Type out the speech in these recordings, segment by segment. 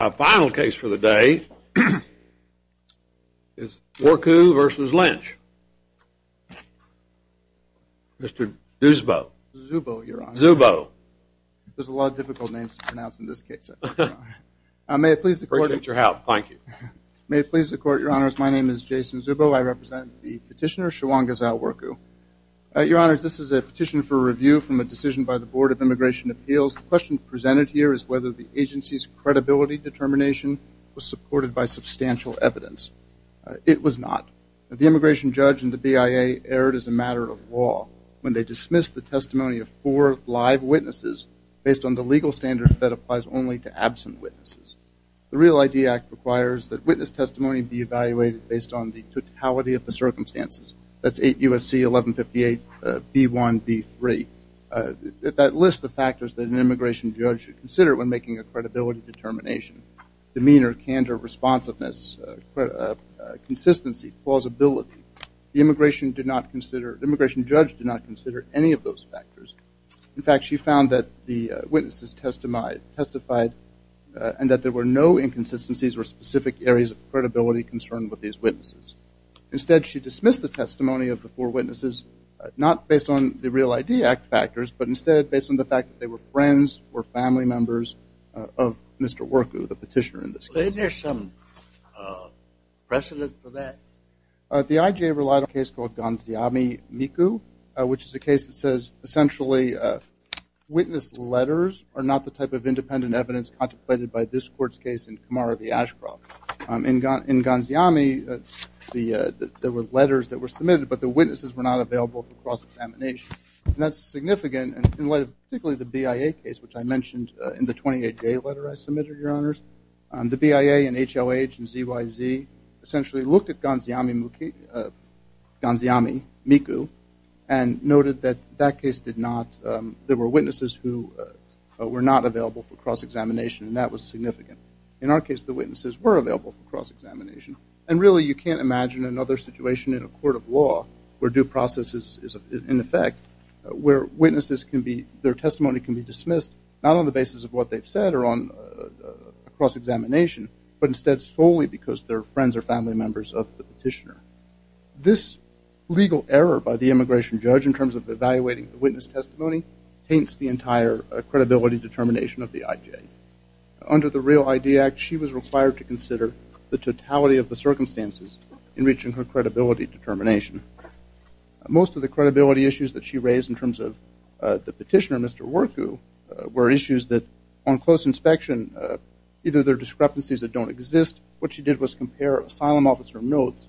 Our final case for the day is Worku v. Lynch, Mr. Zubo. Zubo, Your Honor. Zubo. There's a lot of difficult names to pronounce in this case, Your Honor. May it please the Court. I appreciate your help. Thank you. May it please the Court, Your Honors. My name is Jason Zubo. I represent the petitioner, Shewangizaw Worku. Your Honors, this is a petition for review from a decision by the Board of Immigration Appeals. The question presented here is whether the agency's credibility determination was supported by substantial evidence. It was not. The immigration judge and the BIA erred as a matter of law when they dismissed the testimony of four live witnesses based on the legal standard that applies only to absent witnesses. The Real ID Act requires that witness testimony be evaluated based on the totality of the circumstances. That's 8 U.S.C. 1158 B1, B3. That lists the factors that an immigration judge should consider when making a credibility Demeanor, candor, responsiveness, consistency, plausibility. The immigration judge did not consider any of those factors. In fact, she found that the witnesses testified and that there were no inconsistencies or specific areas of credibility concerned with these witnesses. Instead, she dismissed the testimony of the four witnesses, not based on the Real ID Act factors, but instead based on the fact that they were friends or family members of Mr. Worku, the petitioner in this case. Isn't there some precedent for that? The IJA relied on a case called Gonziami-Miku, which is a case that says essentially witness letters are not the type of independent evidence contemplated by this court's case in Kamara v. Ashcroft. In Gonziami, there were letters that were submitted, but the witnesses were not available for cross-examination. And that's significant in light of particularly the BIA case, which I mentioned in the 28-day letter I submitted, Your Honors. The BIA and HOH and ZYZ essentially looked at Gonziami-Miku and noted that that case did not, there were witnesses who were not available for cross-examination, and that was significant. In our case, the witnesses were available for cross-examination. And really, you can't imagine another situation in a court of law where due process is in effect, where witnesses can be, their testimony can be dismissed not on the basis of what they've said or on cross-examination, but instead solely because they're friends or family members of the petitioner. This legal error by the immigration judge in terms of evaluating the witness testimony taints the entire credibility determination of the IJA. Under the Real ID Act, she was required to consider the totality of the circumstances in reaching her credibility determination. Most of the credibility issues that she raised in terms of the petitioner, Mr. Warku, were issues that on close inspection, either there are discrepancies that don't exist. What she did was compare asylum officer notes,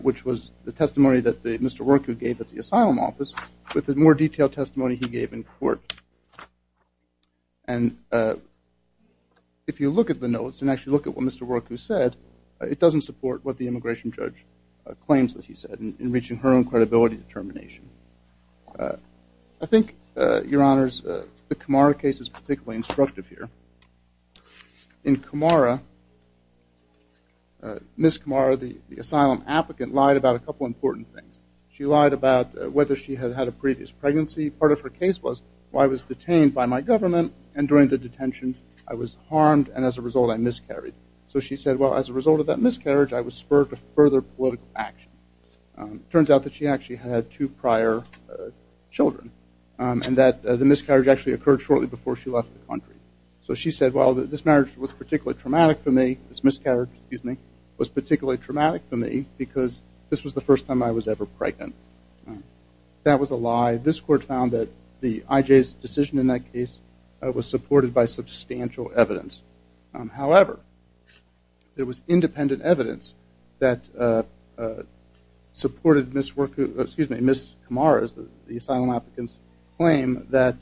which was the testimony that Mr. Warku gave at the asylum office, with the more detailed testimony he gave in court. And if you look at the notes and actually look at what Mr. Warku said, it doesn't support what the immigration judge claims that he said in reaching her own credibility determination. I think, Your Honors, the Kamara case is particularly instructive here. In Kamara, Ms. Kamara, the asylum applicant, lied about a couple important things. She lied about whether she had had a previous pregnancy. Part of her case was, well, I was detained by my government, and during the detention, I was harmed, and as a result, I miscarried. So she said, well, as a result of that miscarriage, I was spurred to further political action. Turns out that she actually had two prior children, and that the miscarriage actually occurred shortly before she left the country. So she said, well, this marriage was particularly traumatic for me, this miscarriage, excuse me, was particularly traumatic for me, because this was the first time I was ever pregnant. That was a lie. This court found that the IJ's decision in that case was supported by substantial evidence. However, there was independent evidence that supported Ms. Kamara's, the asylum applicant's, claim that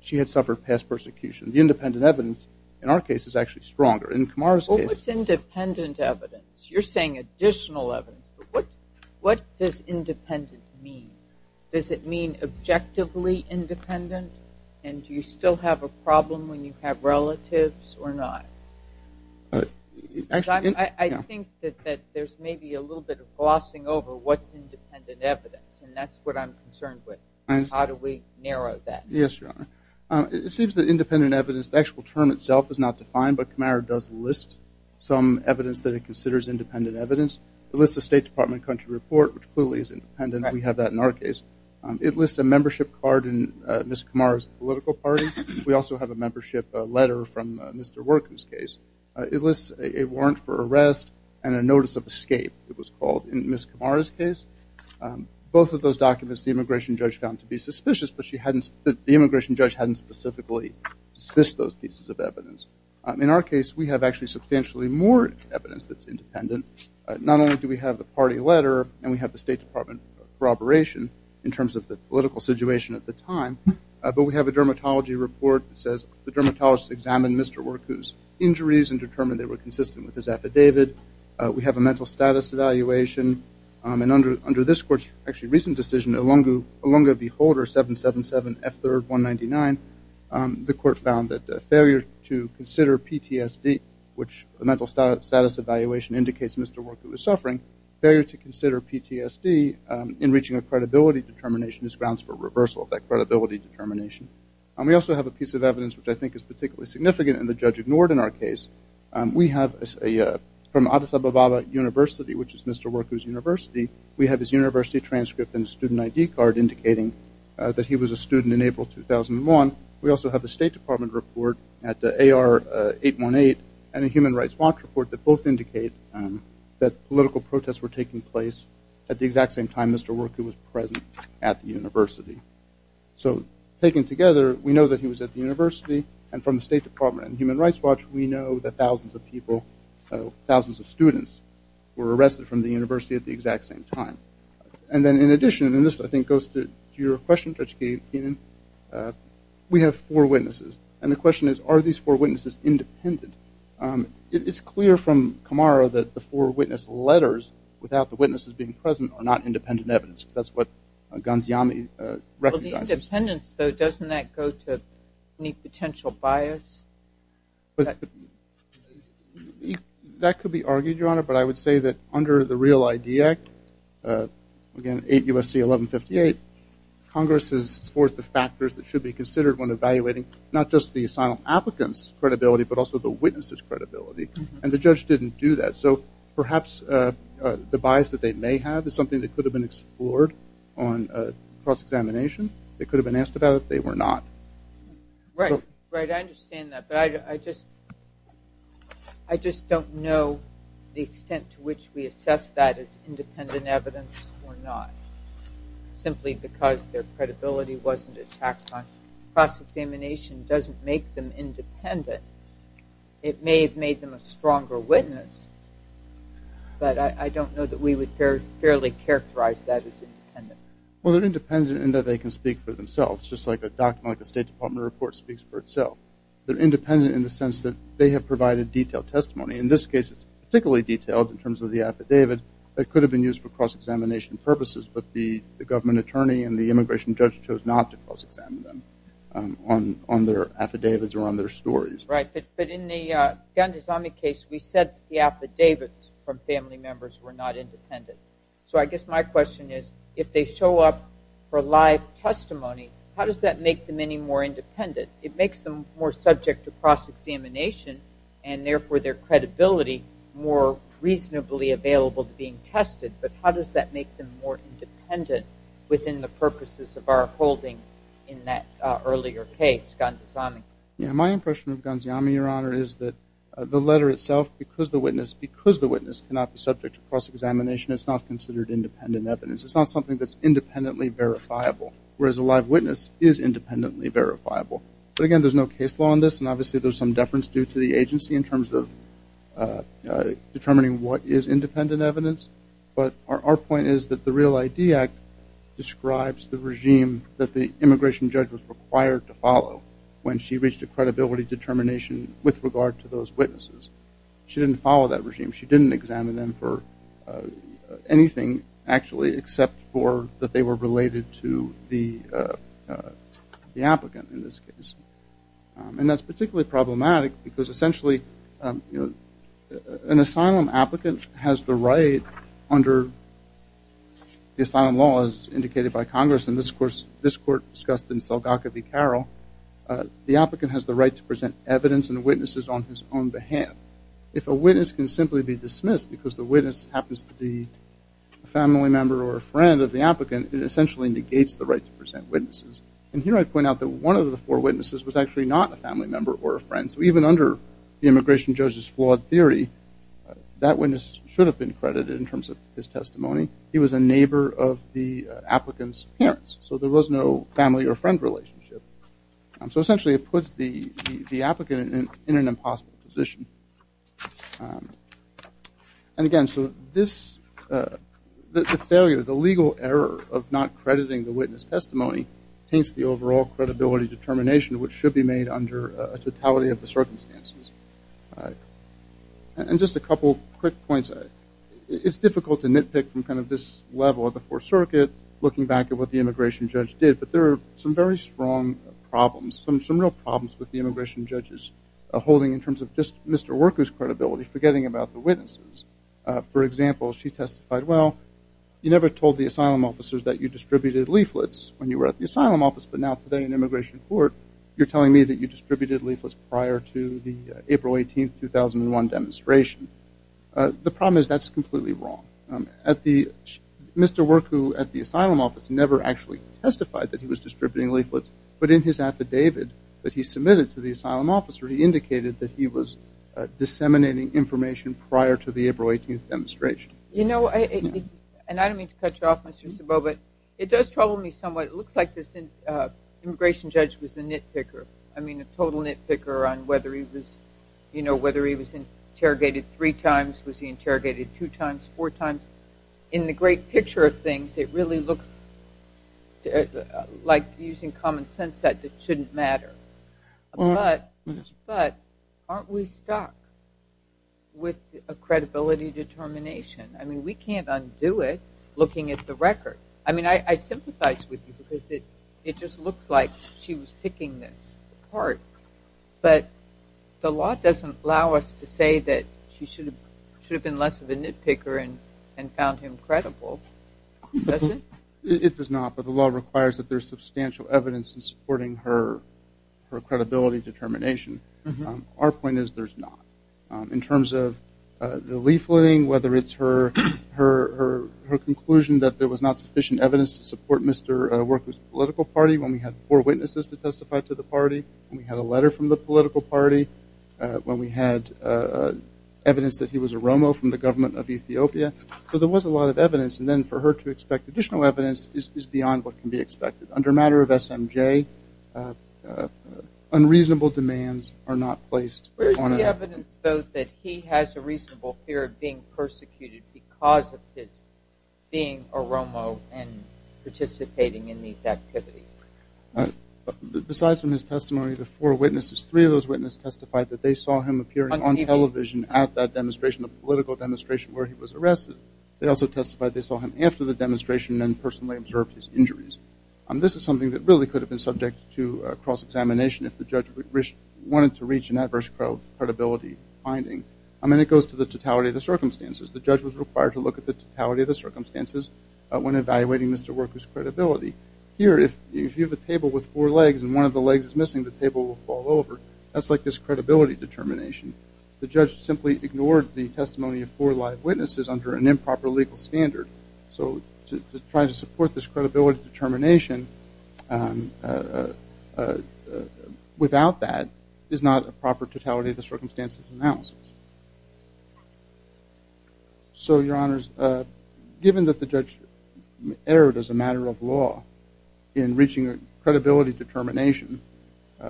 she had suffered past persecution. The independent evidence, in our case, is actually stronger. In Kamara's case- What's independent evidence? You're saying additional evidence. What does independent mean? Does it mean objectively independent, and do you still have a problem when you have relatives or not? I think that there's maybe a little bit of glossing over what's independent evidence, and that's what I'm concerned with. How do we narrow that? Yes, Your Honor. It seems that independent evidence, the actual term itself is not defined, but Kamara does list some evidence that he considers independent evidence. It lists the State Department Country Report, which clearly is independent. We have that in our case. It lists a membership card in Ms. Kamara's political party. We also have a membership letter from Mr. Workum's case. It lists a warrant for arrest and a notice of escape, it was called, in Ms. Kamara's case. Both of those documents, the immigration judge found to be suspicious, but the immigration judge hadn't specifically dismissed those pieces of evidence. In our case, we have actually substantially more evidence that's independent. Not only do we have the party letter and we have the State Department corroboration in terms of the political situation at the time, but we have a dermatology report that says the dermatologist examined Mr. Workum's injuries and determined they were consistent with his affidavit. We have a mental status evaluation. Under this court's actually recent decision, Olonga v. Holder, 777F3R199, the court found that failure to consider PTSD, which a mental status evaluation indicates Mr. Workum was suffering, failure to consider PTSD in reaching a credibility determination is grounds for reversal of that credibility determination. We also have a piece of evidence which I think is particularly significant and the judge ignored in our case. We have from Addis Ababa University, which is Mr. Workum's university, we have his university transcript and student ID card indicating that he was a student in April 2001. We also have the State Department report at AR-818 and a Human Rights Watch report that both indicate that political protests were taking place at the exact same time Mr. Workum was present at the university. So taken together, we know that he was at the university and from the State Department and Human Rights Watch, we know that thousands of people, thousands of students were arrested from the university at the exact same time. And then in addition, and this I think goes to your question, Judge Keenan, we have four witnesses and the question is, are these four witnesses independent? It's clear from Kamara that the four witness letters without the witnesses being present are not independent evidence because that's what Gonziami recognizes. Well, the independence though, doesn't that go to any potential bias? That could be argued, Your Honor, but I would say that under the Real ID Act, again, 8 U.S.C. 1158, Congress has scored the factors that should be considered when evaluating not just the asylum applicants' credibility but also the witnesses' credibility and the judge didn't do that. So perhaps the bias that they may have is something that could have been explored on cross-examination. They could have been asked about it. They were not. Right. I understand that, but I just don't know the extent to which we assess that as independent evidence or not, simply because their credibility wasn't attacked on cross-examination doesn't make them independent. It may have made them a stronger witness, but I don't know that we would fairly characterize that as independent. Well, they're independent in that they can speak for themselves. Just like a document, like a State Department report speaks for itself. They're independent in the sense that they have provided detailed testimony. In this case, it's particularly detailed in terms of the affidavit that could have been used for cross-examination purposes, but the government attorney and the immigration judge chose not to cross-examine them on their affidavits or on their stories. Right. But in the Gandhi-Zami case, we said the affidavits from family members were not independent. So I guess my question is, if they show up for live testimony, how does that make them any more independent? It makes them more subject to cross-examination and, therefore, their credibility more reasonably available to being tested, but how does that make them more independent within the purposes of our holding in that earlier case, Gandhi-Zami? My impression of Gandhi-Zami, Your Honor, is that the letter itself, because the witness cannot be subject to cross-examination, it's not considered independent evidence. It's not something that's independently verifiable, whereas a live witness is independently verifiable. But, again, there's no case law on this, and obviously there's some deference due to the agency in terms of determining what is independent evidence, but our point is that the Real ID Act describes the regime that the immigration judge was required to follow when she reached a credibility determination with regard to those witnesses. She didn't follow that regime. She didn't examine them for anything, actually, except for that they were related to the applicant in this case. And that's particularly problematic because, essentially, an asylum applicant has the right under the asylum law, as indicated by Congress in this court discussed in Selgakha v. Carroll, the applicant has the right to present evidence and witnesses on his own behalf. If a witness can simply be dismissed because the witness happens to be a family member or a friend of the applicant, it essentially negates the right to present witnesses. And here I point out that one of the four witnesses was actually not a family member or a friend, so even under the immigration judge's flawed theory, that witness should have been credited in terms of his testimony. He was a neighbor of the applicant's parents, so there was no family or friend relationship. So, essentially, it puts the applicant in an impossible position. And, again, so this, the failure, the legal error of not crediting the witness testimony taints the overall credibility determination, which should be made under a totality of the circumstances. And just a couple quick points. It's difficult to nitpick from kind of this level of the Fourth Circuit, looking back at what the immigration judge did, but there are some very strong problems, some real problems with the immigration judge's holding in terms of just Mr. Werku's credibility, forgetting about the witnesses. For example, she testified, well, you never told the asylum officers that you distributed leaflets when you were at the asylum office, but now today in immigration court, you're telling me that you distributed leaflets prior to the April 18, 2001 demonstration. The problem is that's completely wrong. At the, Mr. Werku at the asylum office never actually testified that he was distributing leaflets, but in his affidavit that he submitted to the asylum officer, he indicated that he was disseminating information prior to the April 18th demonstration. You know, and I don't mean to cut you off, Mr. Sabobat, it does trouble me somewhat. It looks like this immigration judge was a nitpicker. I mean, a total nitpicker on whether he was, you know, whether he was interrogated three times, was he interrogated two times, four times. In the great picture of things, it really looks like using common sense that it shouldn't matter, but aren't we stuck with a credibility determination? I mean, we can't undo it looking at the record. I mean, I sympathize with you because it just looks like she was picking this apart, but the law doesn't allow us to say that she should have been less of a nitpicker and found him credible, does it? It does not, but the law requires that there's substantial evidence in supporting her credibility determination. Our point is there's not. In terms of the leafleting, whether it's her conclusion that there was not sufficient evidence to support Mr. Werku's political party when we had four witnesses to testify to the party, when we had a letter from the political party, when we had evidence that he was a Romo from the government of Ethiopia. So there was a lot of evidence, and then for her to expect additional evidence is beyond what can be expected. Under a matter of SMJ, unreasonable demands are not placed on him. Where's the evidence, though, that he has a reasonable fear of being persecuted because of his being a Romo and participating in these activities? Besides from his testimony, the four witnesses, three of those witnesses testified that they saw him appearing on television at that demonstration, a political demonstration where he was arrested. They also testified they saw him after the demonstration and personally observed his injuries. This is something that really could have been subject to cross-examination if the judge wanted to reach an adverse credibility finding. And it goes to the totality of the circumstances. The judge was required to look at the totality of the circumstances when evaluating Mr. Werku's credibility. Here, if you have a table with four legs and one of the legs is missing, the table will fall over. That's like this credibility determination. The judge simply ignored the testimony of four live witnesses under an improper legal standard. So to try to support this credibility determination without that is not a proper totality of the circumstances analysis. So, your honors, given that the judge erred as a matter of law in reaching a credibility determination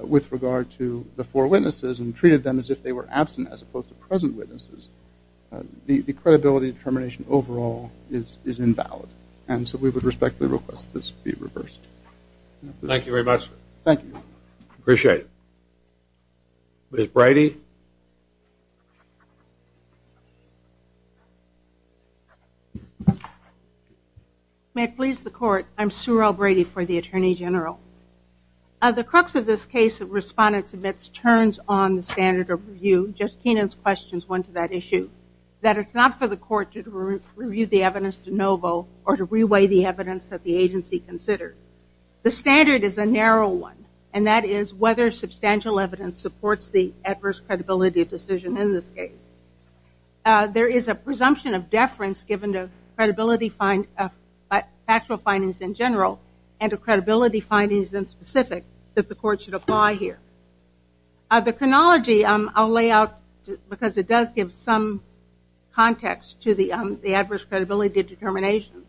with regard to the four witnesses and treated them as if they were absent as opposed to present witnesses, the credibility determination overall is invalid. And so we would respectfully request that this be reversed. Thank you very much. Thank you. I appreciate it. Ms. Bridey. May it please the court. I'm Surel Bridey for the Attorney General. The crux of this case that respondents admits turns on the standard of review. Judge Keenan's questions went to that issue. That it's not for the court to review the evidence de novo or to reweigh the evidence that the agency considered. The standard is a narrow one. And that is whether substantial evidence supports the adverse credibility decision in this case. There is a presumption of deference given to credibility factual findings in general and credibility findings in specific that the court should apply here. The chronology I'll lay out because it does give some context to the adverse credibility determination.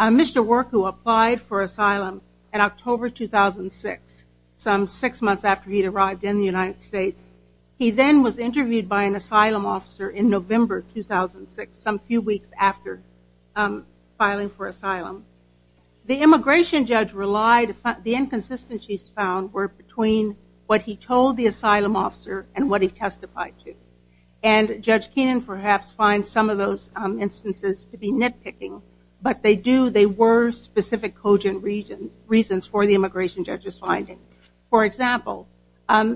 Mr. Work, who applied for asylum in October 2006, some six months after he arrived in the United States, he then was interviewed by an asylum officer in November 2006, some few weeks after filing for asylum. The immigration judge relied, the inconsistencies found were between what he told the asylum officer and what he testified to. And Judge Keenan perhaps finds some of those instances to be nitpicking. But they do, they were specific cogent reasons for the immigration judge's finding. For example,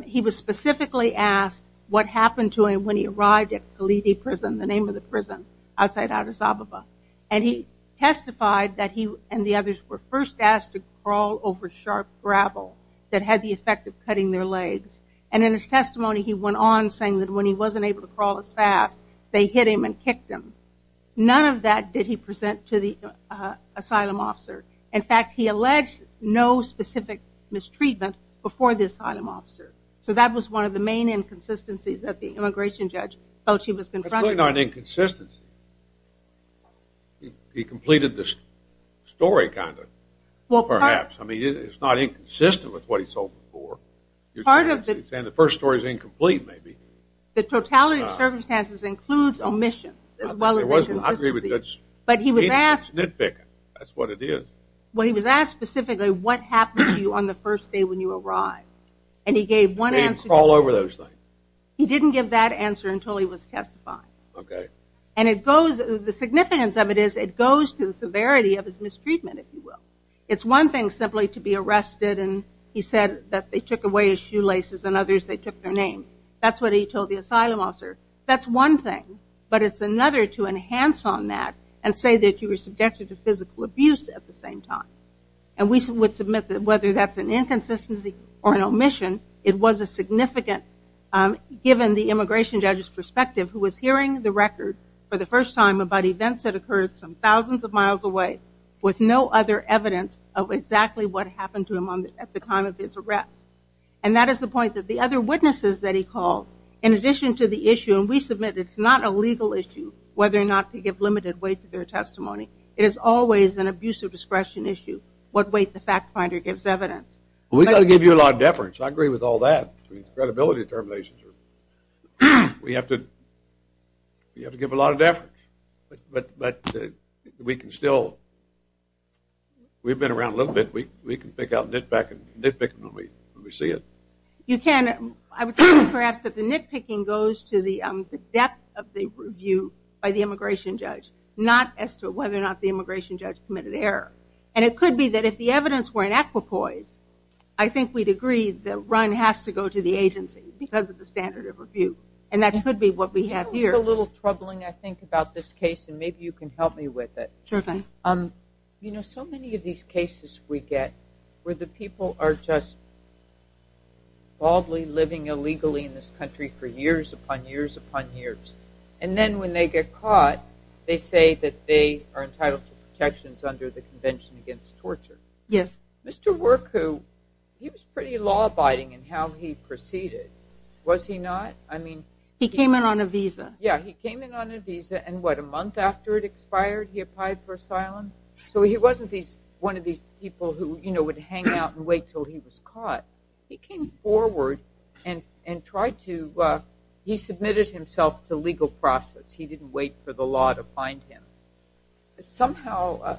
he was specifically asked what happened to him when he arrived at Kaliti prison, the name of the prison outside Addis Ababa. And he testified that he and the others were first asked to crawl over sharp gravel that had the effect of cutting their legs. And in his testimony, he went on saying that when he wasn't able to crawl as fast, they hit him and kicked him. None of that did he present to the asylum officer. In fact, he alleged no specific mistreatment before the asylum officer. So that was one of the main inconsistencies that the immigration judge felt he was confronting. It's really not an inconsistency. He completed the story kind of, perhaps. I mean, it's not inconsistent with what he's hoping for. You're saying the first story is incomplete, maybe. The totality of circumstances includes omissions as well as inconsistencies. But he was asked. It's nitpicking. That's what it is. Well, he was asked specifically what happened to you on the first day when you arrived. And he gave one answer. He didn't crawl over those things. He didn't give that answer until he was testified. Okay. And it goes, the significance of it is it goes to the severity of his mistreatment, if you will. It's one thing simply to be arrested and he said that they took away his shoelaces and others they took their names. That's what he told the asylum officer. That's one thing. But it's another to enhance on that and say that you were subjected to physical abuse at the same time. And we would submit that whether that's an inconsistency or an omission, it was a significant given the immigration judge's perspective who was hearing the record for the first time about events that occurred some thousands of miles away with no other evidence of exactly what happened to him at the time of his arrest. And that is the point that the other witnesses that he called, in addition to the issue, and we submit it's not a legal issue whether or not to give limited weight to their testimony. It is always an abuse of discretion issue. What weight the fact finder gives evidence. We've got to give you a lot of deference. I agree with all that. Credibility determinations. We have to give a lot of deference. But we can still, we've been around a little bit. We can pick out nitpicking when we see it. You can. I would say perhaps that the nitpicking goes to the depth of the review by the immigration judge. Not as to whether or not the immigration judge committed error. And it could be that if the evidence were in equipoise, I think we'd agree the run has to go to the agency because of the standard of review. And that could be what we have here. It's a little troubling, I think, about this case. And maybe you can help me with it. Sure thing. You know, so many of these cases we get where the people are just baldly living illegally in this country for years upon years upon years. And then when they get caught, they say that they are entitled to protections under the Convention Against Torture. Yes. Mr. Warku, he was pretty law-abiding in how he proceeded. Was he not? I mean. He came in on a visa. Yeah, he came in on a visa. And what, a month after it expired, he applied for asylum? So he wasn't one of these people who would hang out and wait until he was caught. He came forward and tried to. He submitted himself to legal process. He didn't wait for the law to find him. Somehow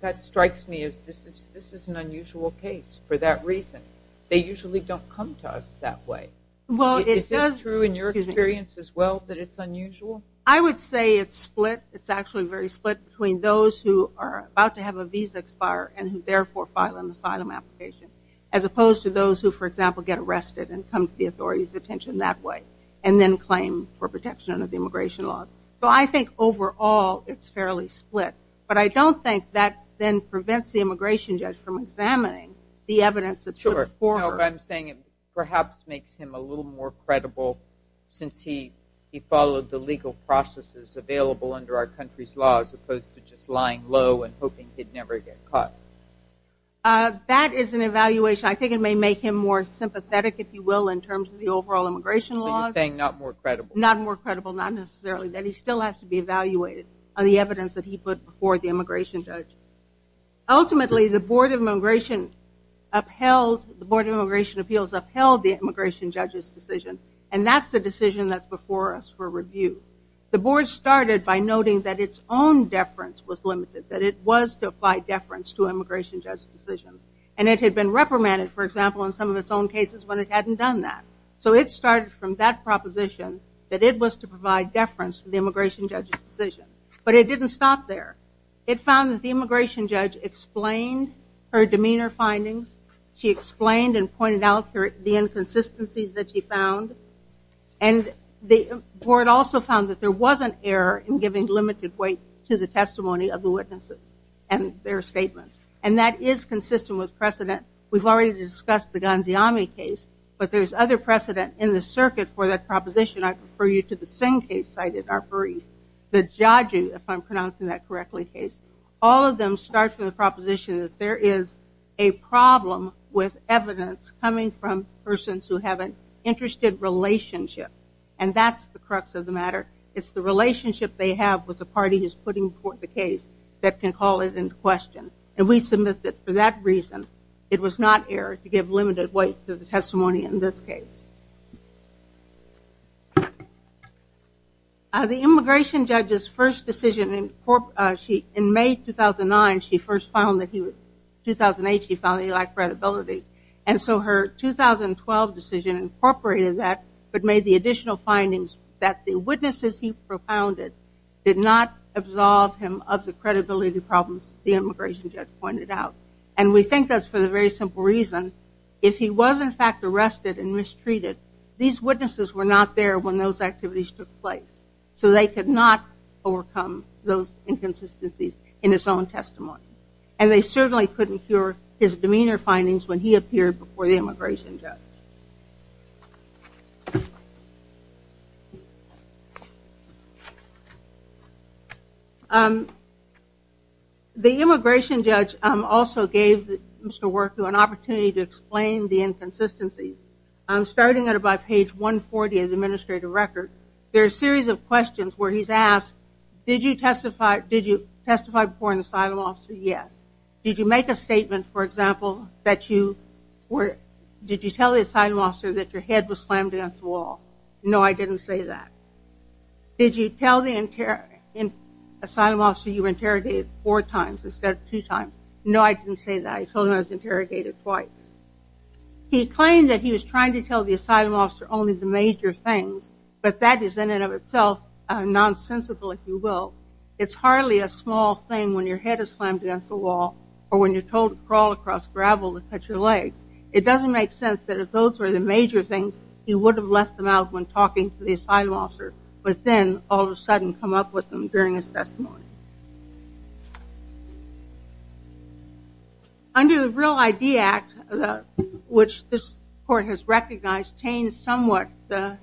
that strikes me as this is an unusual case for that reason. They usually don't come to us that way. Well, it does. Is this true in your experience as well that it's unusual? I would say it's split. It's actually very split between those who are about to have a visa expire and who therefore file an asylum application, as opposed to those who, for example, get arrested and come to the authority's attention that way and then claim for protection under the immigration laws. So I think overall it's fairly split. But I don't think that then prevents the immigration judge from examining the evidence that's put forward. I'm saying it perhaps makes him a little more credible since he followed the legal processes available under our country's law, as opposed to just lying low and hoping he'd never get caught. That is an evaluation. I think it may make him more sympathetic, if you will, in terms of the overall immigration laws. You're saying not more credible? Not more credible, not necessarily. That he still has to be evaluated on the evidence that he put before the immigration judge. Ultimately, the Board of Immigration Appeals upheld the immigration judge's decision. And that's the decision that's before us for review. The board started by noting that its own deference was limited, that it was to apply deference to immigration judge's decisions. And it had been reprimanded, for example, in some of its own cases when it hadn't done that. So it started from that proposition that it was to provide deference to the immigration judge's decision. But it didn't stop there. It found that the immigration judge explained her demeanor findings. She explained and pointed out the inconsistencies that she found. And the board also found that there was an error in giving limited weight to the testimony of the witnesses and their statements. And that is consistent with precedent. We've already discussed the Gonziami case. But there's other precedent in the circuit for that proposition. I refer you to the same case cited, our brief. The judges, if I'm pronouncing that correctly, all of them start from the proposition that there is a problem with evidence coming from persons who have an interested relationship. And that's the crux of the matter. It's the relationship they have with the party who's putting forth the case that can call it into question. And we submit that for that reason, it was not error to give limited weight to the testimony in this case. The immigration judge's first decision in May 2009, she first found that he was 2008, she found that he lacked credibility. And so her 2012 decision incorporated that but made the additional findings that the witnesses he propounded did not absolve him of the credibility problems the immigration judge pointed out. And we think that's for the very simple reason. If he was in fact arrested and mistreated, these witnesses were not there when those activities took place. So they could not overcome those inconsistencies in his own testimony. And they certainly couldn't cure his demeanor findings when he appeared before the immigration judge. Thank you. The immigration judge also gave Mr. Worker an opportunity to explain the inconsistencies. Starting at about page 140 of the administrative record, there's a series of questions where he's asked, did you testify before an asylum officer? Yes. Did you make a statement, for example, that you were, did you tell the asylum officer that your head was slammed against the wall? No, I didn't say that. Did you tell the asylum officer you were interrogated four times instead of two times? No, I didn't say that. I told him I was interrogated twice. He claimed that he was trying to tell the asylum officer only the major things, but that is in and of itself nonsensical, if you will. It's hardly a small thing when your head is slammed against the wall or when you're told to crawl across gravel to cut your legs. It doesn't make sense that if those were the major things, he would have left them out when talking to the asylum officer, but then all of a sudden come up with them during his testimony. Under the Real ID Act, which this court has recognized changed somewhat the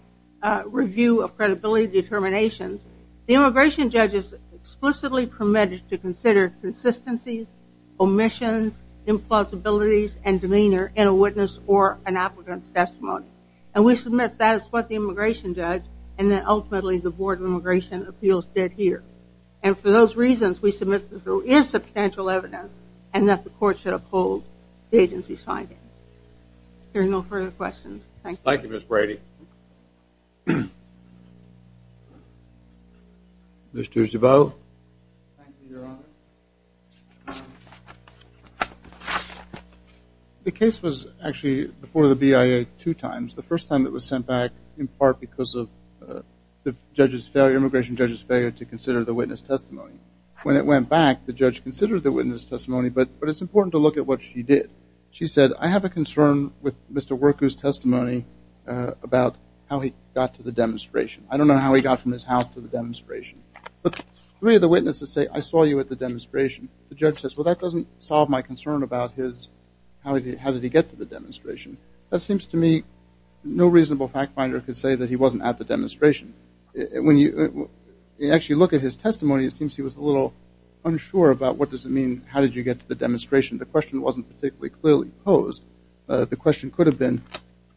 review of credibility determinations. The immigration judge has explicitly permitted to consider consistencies, omissions, implausibilities, and demeanor in a witness or an applicant's testimony, and we submit that is what the immigration judge and then ultimately the Board of Immigration Appeals did here, and for those reasons, we submit that there is substantial evidence and that the court should uphold the agency's findings. Hearing no further questions, thank you. Thank you, Ms. Brady. Mr. Duvall. The case was actually before the BIA two times. The first time it was sent back in part because of the judge's failure, immigration judge's failure to consider the witness testimony. When it went back, the judge considered the witness testimony, but it's important to look at what she did. She said, I have a concern with Mr. Worku's testimony about how he got to the demonstration. I don't know how he got from his house to the demonstration. But three of the witnesses say, I saw you at the demonstration. The judge says, well, that doesn't solve my concern about how did he get to the demonstration. That seems to me no reasonable fact finder could say that he wasn't at the demonstration. When you actually look at his testimony, it seems he was a little unsure about what does it mean, how did you get to the demonstration? The question wasn't particularly clearly posed. The question could have been,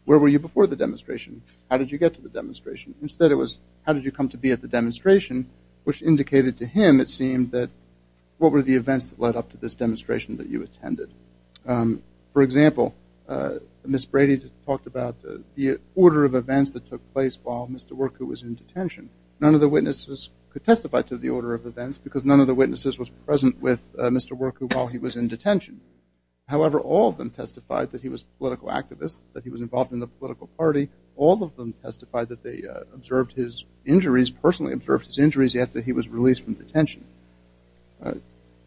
where were you before the demonstration? How did you get to the demonstration? Instead, it was, how did you come to be at the demonstration? Which indicated to him, it seemed, that what were the events that led up to this demonstration that you attended? For example, Ms. Brady talked about the order of events that took place while Mr. Worku was in detention. None of the witnesses could testify to the order of events because none of the witnesses was present with Mr. Worku while he was in detention. However, all of them testified that he was a political activist, that he was involved in the political party. All of them testified that they observed his injuries, personally observed his injuries after he was released from detention.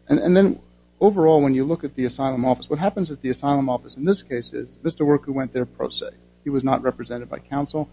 And then overall, when you look at the asylum office, what happens at the asylum office in this case is Mr. Worku went there pro se. He was not represented by counsel.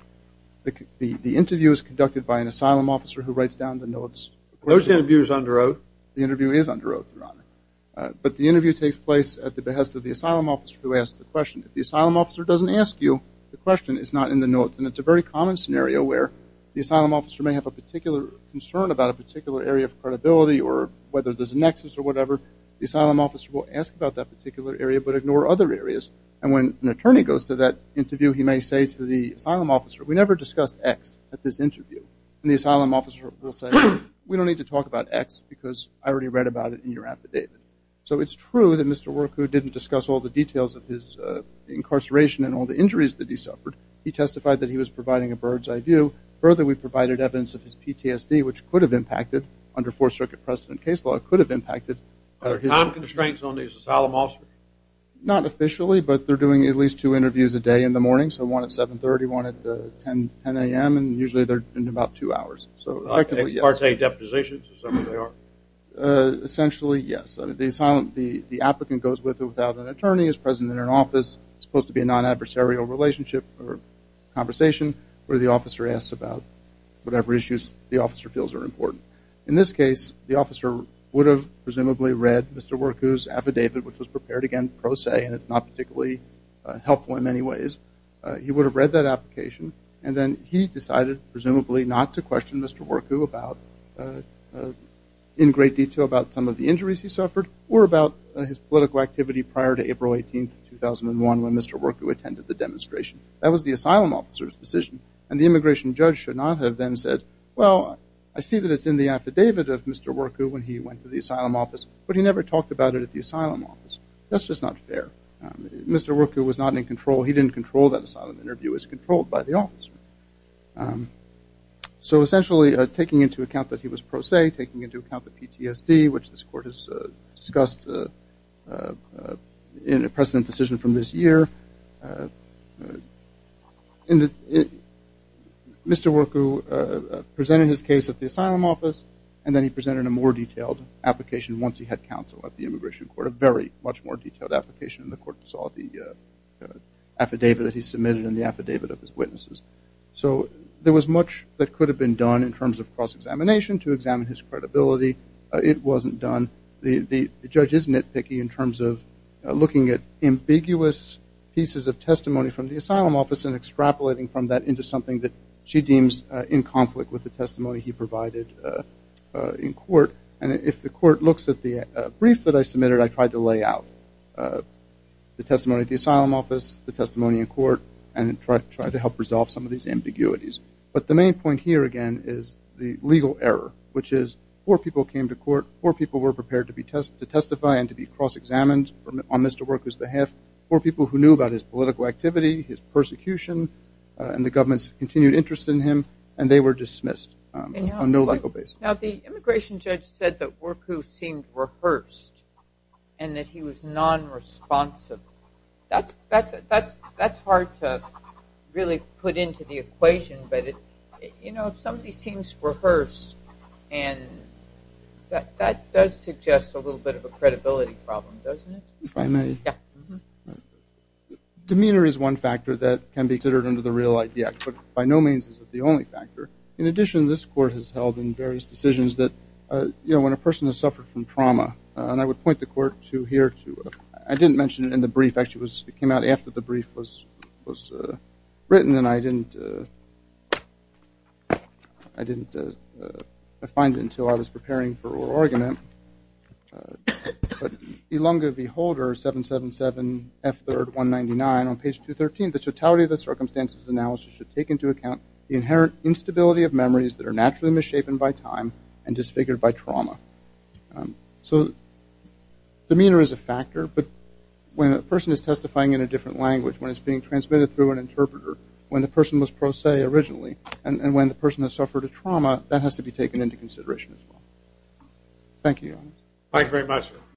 The interview is conducted by an asylum officer who writes down the notes. Those interviews are under oath. The interview is under oath, Your Honor. But the interview takes place at the behest of the asylum officer who asks the question. The asylum officer doesn't ask you the question. It's not in the notes. And it's a very common scenario where the asylum officer may have a particular concern about a particular area of credibility or whether there's a nexus or whatever. The asylum officer will ask about that particular area but ignore other areas. And when an attorney goes to that interview, he may say to the asylum officer, we never discussed X at this interview. And the asylum officer will say, we don't need to talk about X because I already read about it in your affidavit. So it's true that Mr. Worku didn't discuss all the details of his incarceration and all the injuries that he suffered. He testified that he was providing a bird's eye view. Further, we provided evidence of his PTSD, which could have impacted under Fourth Circuit precedent case law, could have impacted. Are there time constraints on these asylum officers? Not officially, but they're doing at least two interviews a day in the morning. So one at 730, one at 10 a.m. And usually they're in about two hours. So effectively, yes. Are they part-day depositions? Essentially, yes. The applicant goes with or without an attorney, is present in an office. It's supposed to be a non-adversarial relationship or conversation where the officer asks about whatever issues the officer feels are important. In this case, the officer would have presumably read Mr. Worku's affidavit, which was prepared again pro se, and it's not particularly helpful in many ways. He would have read that application. And then he decided, presumably, not to question Mr. Worku in great detail about some of the or about his political activity prior to April 18, 2001, when Mr. Worku attended the demonstration. That was the asylum officer's decision. And the immigration judge should not have then said, well, I see that it's in the affidavit of Mr. Worku when he went to the asylum office, but he never talked about it at the asylum office. That's just not fair. Mr. Worku was not in control. He didn't control that asylum interview. It was controlled by the officer. So essentially, taking into account that he was pro se, taking into account the PTSD, which this court has discussed in a precedent decision from this year, Mr. Worku presented his case at the asylum office, and then he presented a more detailed application once he had counsel at the immigration court, a very much more detailed application in the court that saw the affidavit that he submitted and the affidavit of his witnesses. So there was much that could have been done in terms of cross-examination to examine his credibility. It wasn't done. The judge is nitpicky in terms of looking at ambiguous pieces of testimony from the asylum office and extrapolating from that into something that she deems in conflict with the testimony he provided in court. And if the court looks at the brief that I submitted, I tried to lay out the testimony at the asylum office, the testimony in court, and try to help resolve some of these ambiguities. But the main point here, again, is the legal error, which is four people came to court, four people were prepared to testify and to be cross-examined on Mr. Worku's behalf, four people who knew about his political activity, his persecution, and the government's continued interest in him, and they were dismissed on no legal basis. Now, the immigration judge said that Worku seemed rehearsed and that he was nonresponsive. That's hard to really put into the equation, but somebody seems rehearsed, and that does suggest a little bit of a credibility problem, doesn't it? If I may? Yeah. Demeanor is one factor that can be considered under the real IDF, but by no means is it the only factor. In addition, this court has held in various decisions that when a person has suffered from trauma, and I would point the court to here, I didn't mention it in the brief, actually it came out after the brief was written, and I didn't find it until I was preparing for oral argument, but Ilunga v. Holder, 777 F. 3rd 199, on page 213, the totality of the circumstances analysis should take into account the inherent instability of memories that are naturally misshapen by time and disfigured by trauma. So demeanor is a factor, but when a person is testifying in a different language, when it's being transmitted through an interpreter, when the person was pro se originally, and when the person has suffered a trauma, that has to be taken into consideration as well. Thank you. Thank you very much.